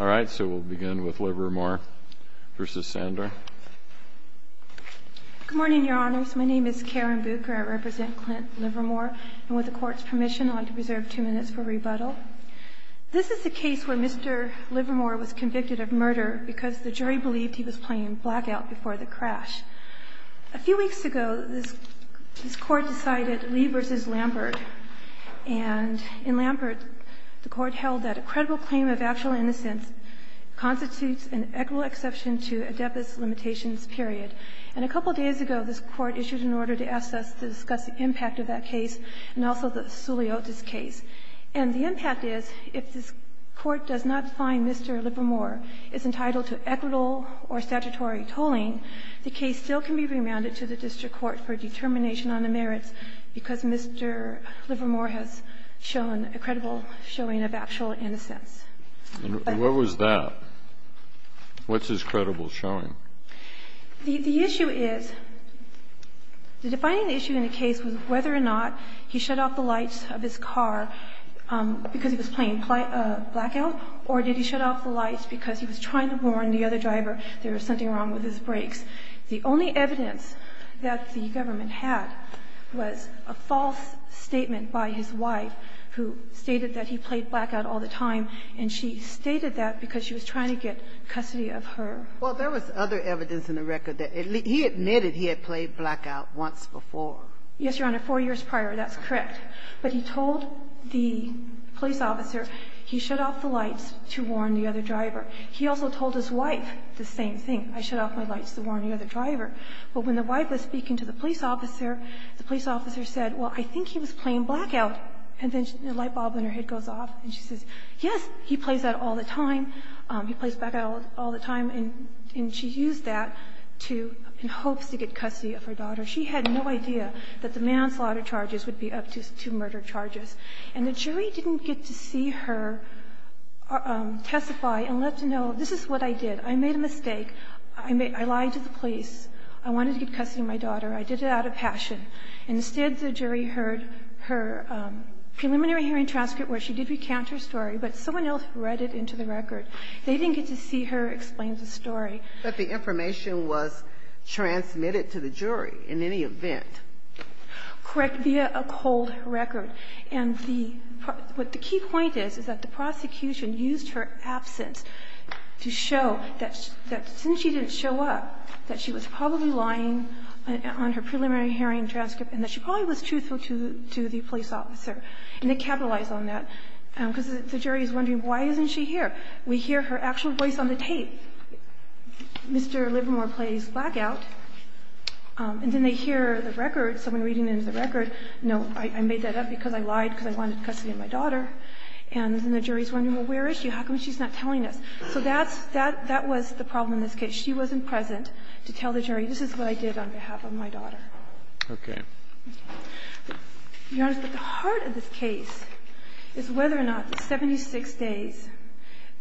All right, so we'll begin with Livermore v. Sandor. Good morning, Your Honors. My name is Karen Bucher. I represent Clint Livermore. And with the Court's permission, I'd like to preserve two minutes for rebuttal. This is the case where Mr. Livermore was convicted of murder because the jury believed he was playing blackout before the crash. A few weeks ago, this Court decided Lee v. Lambert. And in Lambert, the Court held that a credible claim of actual innocence constitutes an equitable exception to a deficit limitations period. And a couple of days ago, this Court issued an order to ask us to discuss the impact of that case and also the Suliotis case. And the impact is, if this Court does not find Mr. Livermore is entitled to equitable or statutory tolling, the case still can be remanded to the district court for determination on the merits, because Mr. Livermore has shown a credible showing of actual innocence. And what was that? What's his credible showing? The issue is, the defining issue in the case was whether or not he shut off the lights of his car because he was playing blackout, or did he shut off the lights because he was trying to warn the other driver there was something wrong with his brakes. The only evidence that the government had was a false statement by his wife who stated that he played blackout all the time, and she stated that because she was trying to get custody of her. Well, there was other evidence in the record that he admitted he had played blackout once before. Yes, Your Honor. Four years prior, that's correct. But he told the police officer he shut off the lights to warn the other driver. He also told his wife the same thing. I shut off my lights to warn the other driver. But when the wife was speaking to the police officer, the police officer said, well, I think he was playing blackout. And then a light bulb in her head goes off, and she says, yes, he plays that all the time. He plays blackout all the time. And she used that in hopes to get custody of her daughter. She had no idea that the manslaughter charges would be up to murder charges. And the jury didn't get to see her testify and let to know, this is what I did. I made a mistake. I lied to the police. I wanted to get custody of my daughter. I did it out of passion. Instead, the jury heard her preliminary hearing transcript where she did recount her story, but someone else read it into the record. They didn't get to see her explain the story. But the information was transmitted to the jury in any event. Correct, via a cold record. And the key point is, is that the prosecution used her absence to show that since she didn't show up, that she was probably lying on her preliminary hearing transcript and that she probably was truthful to the police officer. And they capitalized on that, because the jury is wondering, why isn't she here? We hear her actual voice on the tape. Mr. Livermore plays blackout. And then they hear the record, someone reading into the record, no, I made that up because I lied because I wanted custody of my daughter. And then the jury is wondering, well, where is she? How come she's not telling us? So that's the problem in this case. She wasn't present to tell the jury, this is what I did on behalf of my daughter. Okay. Your Honor, at the heart of this case is whether or not the 76 days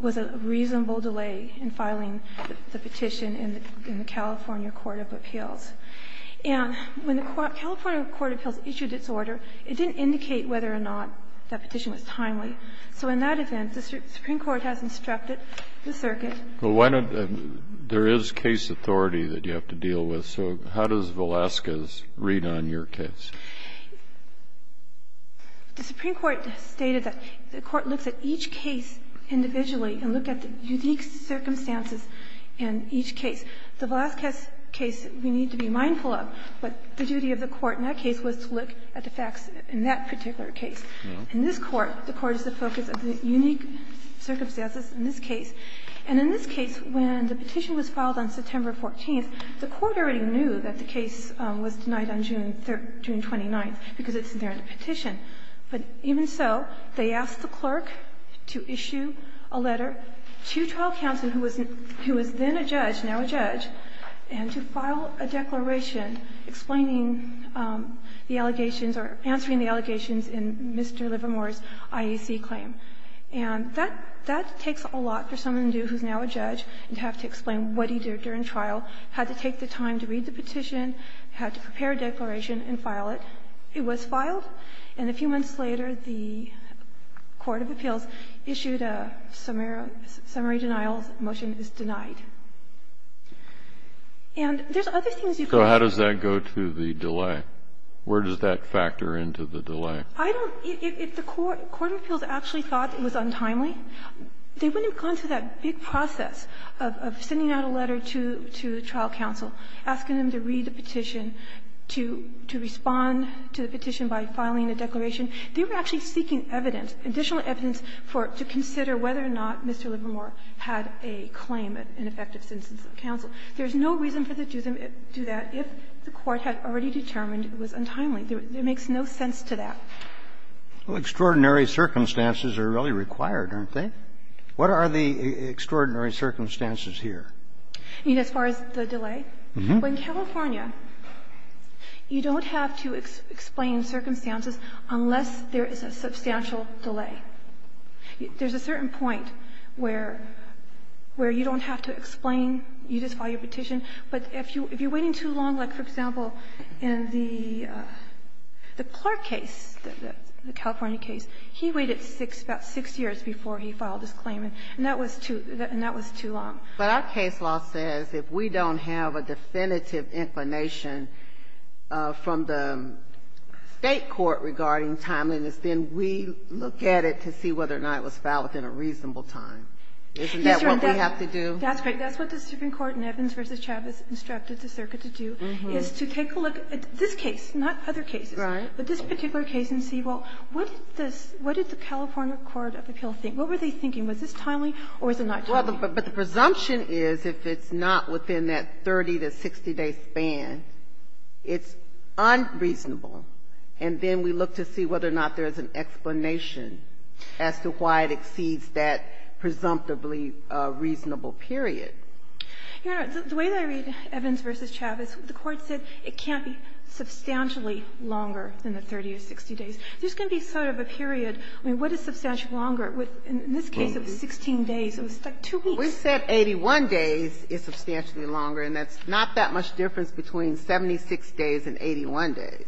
was a reasonable delay in filing the petition in the California court of appeals. And when the California court of appeals issued its order, it didn't indicate whether or not that petition was timely. So in that event, the Supreme Court has instructed the circuit. Well, why don't you do that? There is case authority that you have to deal with. So how does Velazquez read on your case? The Supreme Court stated that the court looks at each case individually and look at the unique circumstances in each case. The Velazquez case we need to be mindful of, but the duty of the court in that case was to look at the facts in that particular case. In this court, the court is the focus of the unique circumstances in this case. And in this case, when the petition was filed on September 14th, the court already knew that the case was denied on June 29th because it's there in the petition. But even so, they asked the clerk to issue a letter to trial counsel, who was then a judge, now a judge, and to file a declaration explaining the allegations or answering the allegations in Mr. Livermore's IEC claim. And that takes a lot for someone new who's now a judge and have to explain what he did during trial, had to take the time to read the petition, had to prepare a declaration and file it. It was filed, and a few months later, the court of appeals issued a summary denial and said that the trial's motion is denied. And there's other things you can do. Kennedy, so how does that go to the delay? Where does that factor into the delay? I don't know. If the court of appeals actually thought it was untimely, they wouldn't have gone through that big process of sending out a letter to the trial counsel, asking them to read the petition, to respond to the petition by filing a declaration. They were actually seeking evidence, additional evidence, to consider whether or not Mr. Livermore had a claim, an effective sentence of counsel. There's no reason for them to do that if the court had already determined it was untimely. It makes no sense to that. Well, extraordinary circumstances are really required, aren't they? What are the extraordinary circumstances here? You mean as far as the delay? Uh-huh. Well, in California, you don't have to explain circumstances unless there is a substantial delay. There's a certain point where you don't have to explain. You just file your petition. But if you're waiting too long, like, for example, in the Clark case, the California case, he waited six, about six years before he filed his claim, and that was too long. But our case law says if we don't have a definitive inclination from the State court regarding timeliness, then we look at it to see whether or not it was filed within a reasonable time. Isn't that what we have to do? That's right. That's what the Supreme Court in Evans v. Chavez instructed the circuit to do, is to take a look at this case, not other cases, but this particular case and see, well, what did this – what did the California court of appeal think? What were they thinking? Was this timely or was it not timely? Well, but the presumption is if it's not within that 30- to 60-day span, it's unreasonable. And then we look to see whether or not there's an explanation as to why it exceeds that presumptively reasonable period. Your Honor, the way that I read Evans v. Chavez, the Court said it can't be substantially longer than the 30 or 60 days. There's going to be sort of a period. I mean, what is substantially longer? In this case, it was 16 days. It was like two weeks. We said 81 days is substantially longer, and that's not that much difference between 76 days and 81 days.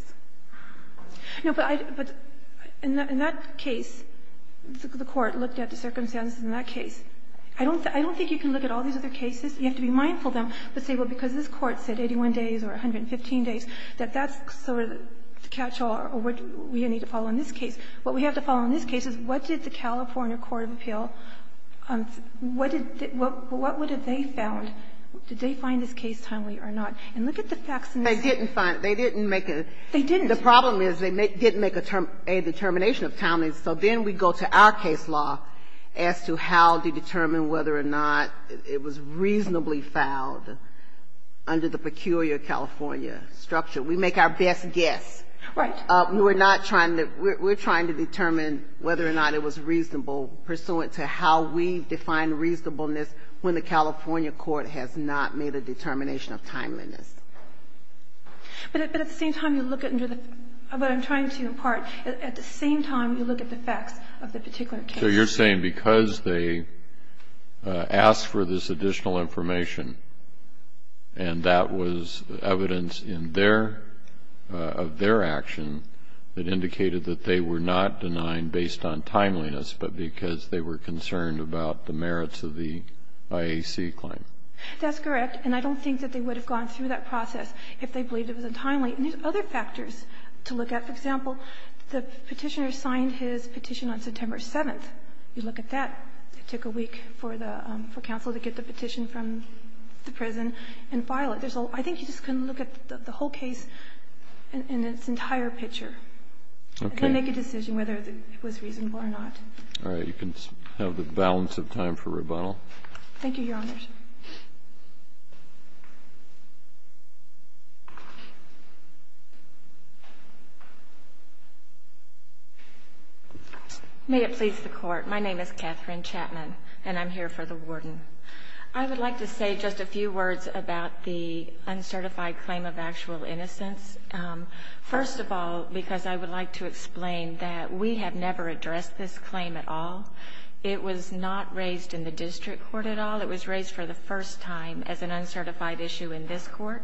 No, but I – but in that case, the Court looked at the circumstances in that case. I don't think you can look at all these other cases. You have to be mindful of them, but say, well, because this Court said 81 days or 115 days, that that's sort of the catch-all or what we need to follow in this case. What we have to follow in this case is what did the California court of appeal – what did they – what would have they found? Did they find this case timely or not? And look at the facts in this case. They didn't find – they didn't make a – They didn't. The problem is they didn't make a determination of timeliness, so then we go to our case law as to how to determine whether or not it was reasonably fouled under the peculiar California structure. We make our best guess. Right. We're not trying to – we're trying to determine whether or not it was reasonable pursuant to how we define reasonableness when the California court has not made a determination of timeliness. But at the same time, you look at – but I'm trying to impart, at the same time, you look at the facts of the particular case. So you're saying because they asked for this additional information and that was evidence in their – of their action that indicated that they were not denied based on timeliness, but because they were concerned about the merits of the IAC claim. That's correct. And I don't think that they would have gone through that process if they believed it was untimely. And there's other factors to look at. For example, the Petitioner signed his petition on September 7th. You look at that. It took a week for the – for counsel to get the petition from the prison and file it. There's a – I think you just can look at the whole case in its entire picture. Okay. And then make a decision whether it was reasonable or not. All right. You can have the balance of time for rebuttal. Thank you, Your Honors. May it please the Court. My name is Katherine Chapman, and I'm here for the warden. I would like to say just a few words about the uncertified claim of actual innocence. First of all, because I would like to explain that we have never addressed this claim at all. It was not raised in the district court at all. It was raised for the first time as an uncertified issue in this Court.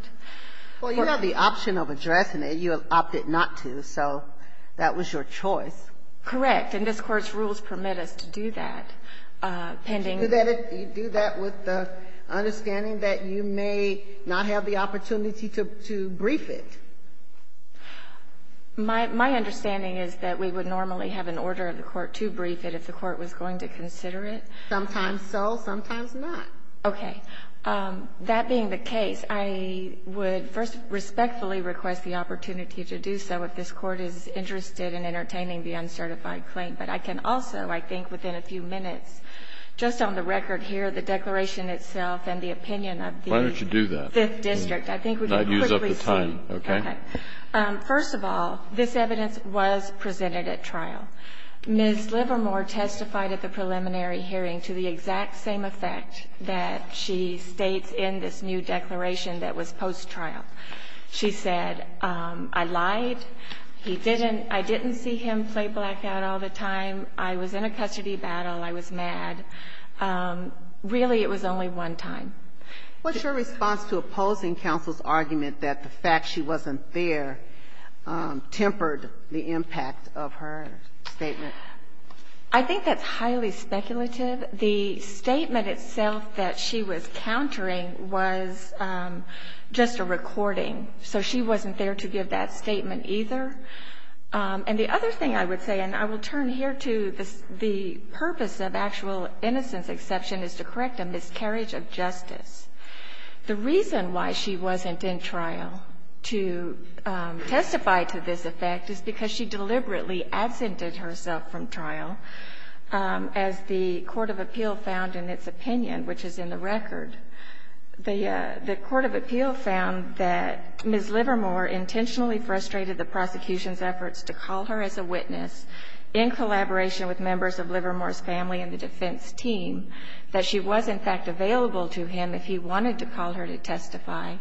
Well, you have the option of addressing it. You opted not to, so that was your choice. Correct. And this Court's rules permit us to do that, pending the – Do that with the understanding that you may not have the opportunity to brief it. My understanding is that we would normally have an order of the Court to brief it if the Court was going to consider it. Sometimes so, sometimes not. Okay. That being the case, I would first respectfully request the opportunity to do so if this Court is interested in entertaining the uncertified claim. But I can also, I think, within a few minutes, just on the record here, the declaration itself and the opinion of the Fifth District. Why don't you do that? I think we can quickly see. I'd use up the time. Okay. First of all, this evidence was presented at trial. Ms. Livermore testified at the preliminary hearing to the exact same effect that she states in this new declaration that was post-trial. She said, I lied, he didn't – I didn't see him play blackout all the time, I was in a custody battle, I was mad. Really, it was only one time. What's your response to opposing counsel's argument that the fact she wasn't there tempered the impact of her statement? I think that's highly speculative. The statement itself that she was countering was just a recording. So she wasn't there to give that statement either. And the other thing I would say, and I will turn here to the purpose of actual The reason why she wasn't in trial to testify to this effect is because she deliberately absented herself from trial, as the court of appeal found in its opinion, which is in the record. The court of appeal found that Ms. Livermore intentionally frustrated the prosecution's efforts to call her as a witness in collaboration with members of Livermore's family and the defense team, that she was in fact available to him if he wanted to call her to testify.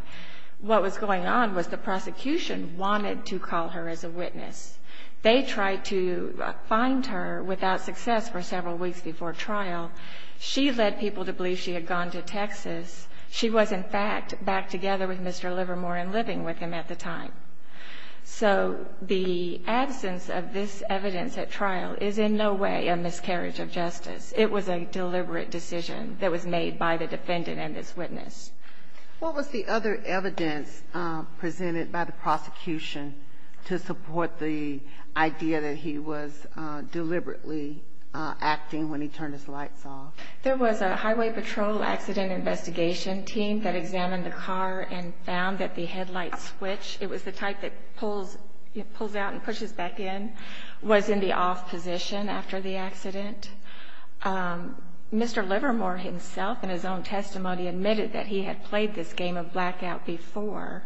What was going on was the prosecution wanted to call her as a witness. They tried to find her without success for several weeks before trial. She led people to believe she had gone to Texas. She was in fact back together with Mr. Livermore and living with him at the time. So the absence of this evidence at trial is in no way a miscarriage of justice. It was a deliberate decision that was made by the defendant and this witness. What was the other evidence presented by the prosecution to support the idea that he was deliberately acting when he turned his lights off? There was a highway patrol accident investigation team that examined the car and found that the headlight switch. It was the type that pulls out and pushes back in, was in the off position after the accident. Mr. Livermore himself in his own testimony admitted that he had played this game of blackout before.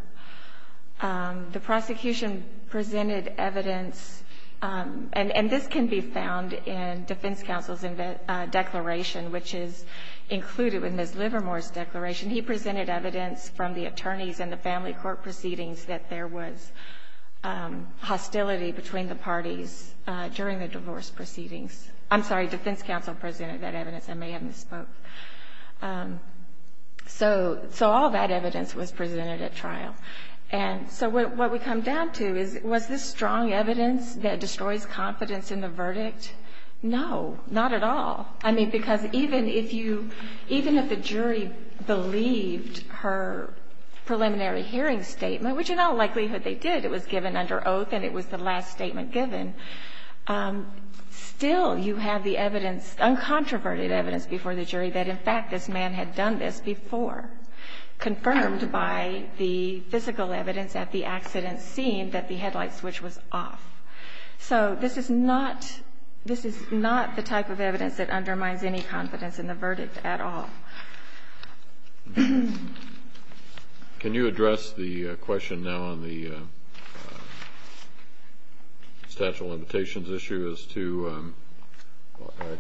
The prosecution presented evidence, and this can be found in defense counsel's presentation, he presented evidence from the attorneys and the family court proceedings that there was hostility between the parties during the divorce proceedings. I'm sorry, defense counsel presented that evidence. I may have misspoke. So so all that evidence was presented at trial. And so what we come down to is, was this strong evidence that destroys confidence in the verdict? No, not at all. I mean, because even if you even if the jury believed her preliminary hearing statement, which in all likelihood they did, it was given under oath and it was the last statement given. Still, you have the evidence, uncontroverted evidence before the jury that in fact, this man had done this before, confirmed by the physical evidence at the accident scene that the headlight switch was off. So this is not, this is not the type of evidence that undermines any confidence in the verdict at all. Can you address the question now on the statute of limitations issue as to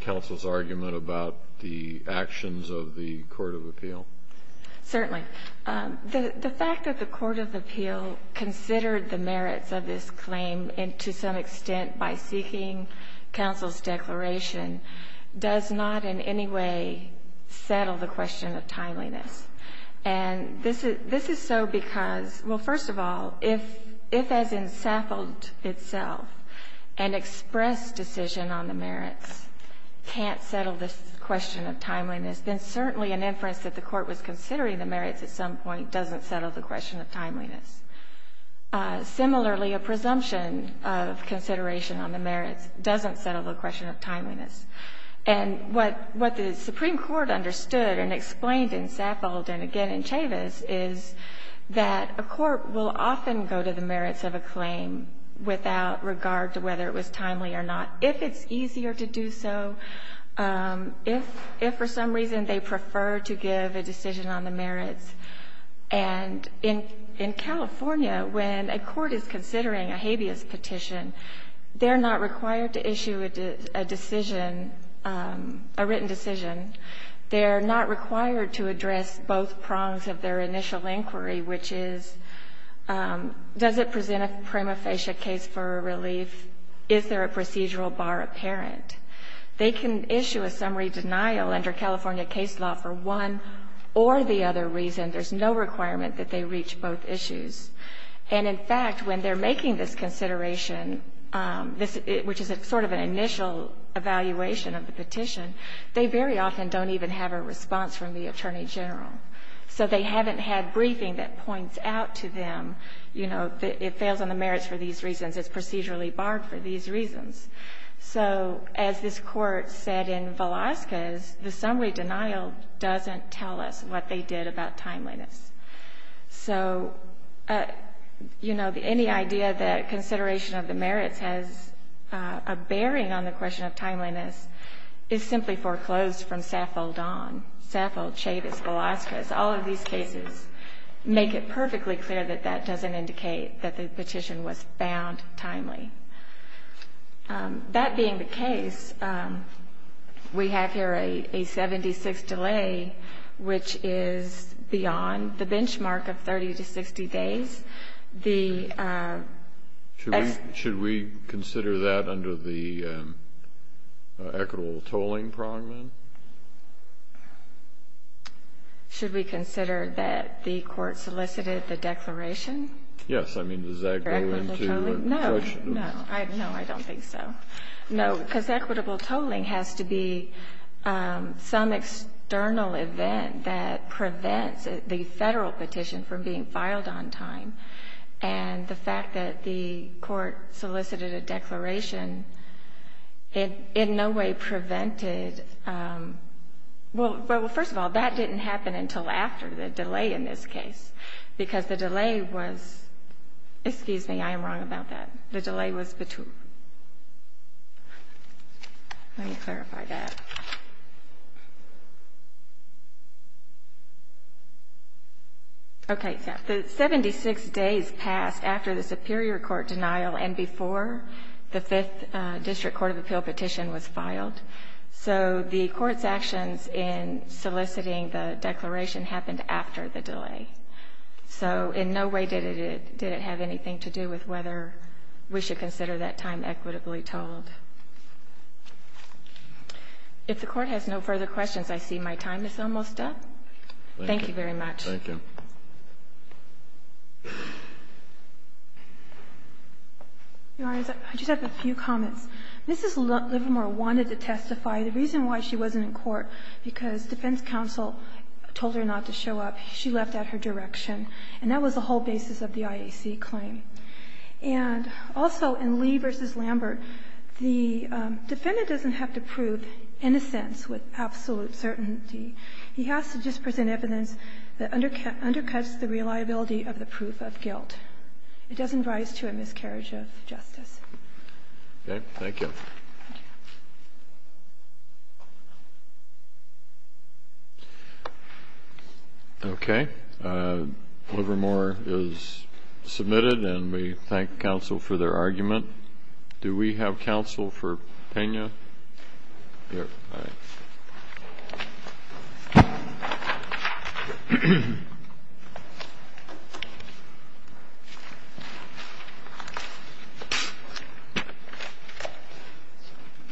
counsel's argument about the actions of the court of appeal? Certainly. The fact that the court of appeal considered the merits of this claim and to some extent by seeking counsel's declaration does not in any way settle the question of timeliness. And this is, this is so because, well, first of all, if, if as in Saffold itself, an express decision on the merits can't settle this question of timeliness, then certainly an inference that the court was considering the merits at some point doesn't settle the question of timeliness. Similarly, a presumption of consideration on the merits doesn't settle the question of timeliness. And what, what the Supreme Court understood and explained in Saffold and again in Chavis is that a court will often go to the merits of a claim without regard to whether it was timely or not. If it's easier to do so, if, if for some reason they prefer to give a decision on the merits, and in, in California, when a court is considering a habeas petition, they're not required to issue a decision, a written decision. They're not required to address both prongs of their initial inquiry, which is does it present a prima facie case for relief? Is there a procedural bar apparent? They can issue a summary denial under California case law for one or the other reason. There's no requirement that they reach both issues. And in fact, when they're making this consideration this, which is a sort of an initial evaluation of the petition, they very often don't even have a response from the attorney general. So they haven't had briefing that points out to them, you know, that it fails on the basis of these reasons, it's procedurally barred for these reasons. So as this court said in Velazquez, the summary denial doesn't tell us what they did about timeliness. So, you know, the, any idea that consideration of the merits has a bearing on the question of timeliness is simply foreclosed from Saffold on, Saffold, Chavis, Velazquez. All of these cases make it perfectly clear that that doesn't indicate that the petition was bound timely. That being the case, we have here a 76 delay, which is beyond the benchmark of 30 to 60 days. The... Should we consider that under the equitable tolling, Prongman? Should we consider that the court solicited the declaration? Yes. I mean, does that go into a question? No, no, no, I don't think so. No, because equitable tolling has to be some external event that prevents the federal petition from being filed on time. And the fact that the court solicited a declaration, it in no way prevented... Well, first of all, that didn't happen until after the delay in this case, because the delay was, excuse me, I am wrong about that. The delay was between... Let me clarify that. Okay. The 76 days passed after the superior court denial and before the Fifth District Court of Appeal petition was filed. So the court's actions in soliciting the declaration happened after the delay. So in no way did it have anything to do with whether we should consider that time equitably tolled. If the Court has no further questions, I see my time is almost up. Thank you very much. Thank you. Your Honor, I just have a few comments. Mrs. Livermore wanted to testify. The reason why she wasn't in court, because defense counsel told her not to show up. She left at her direction. And that was the whole basis of the IAC claim. And also in Lee v. Lambert, the defendant doesn't have to prove innocence with absolute certainty. He has to just present evidence that undercuts the reliability of the proof of guilt. It doesn't rise to a miscarriage of justice. Okay. Thank you. Okay. Livermore is submitted and we thank counsel for their argument. Do we have counsel for Pena? Here. Thank you.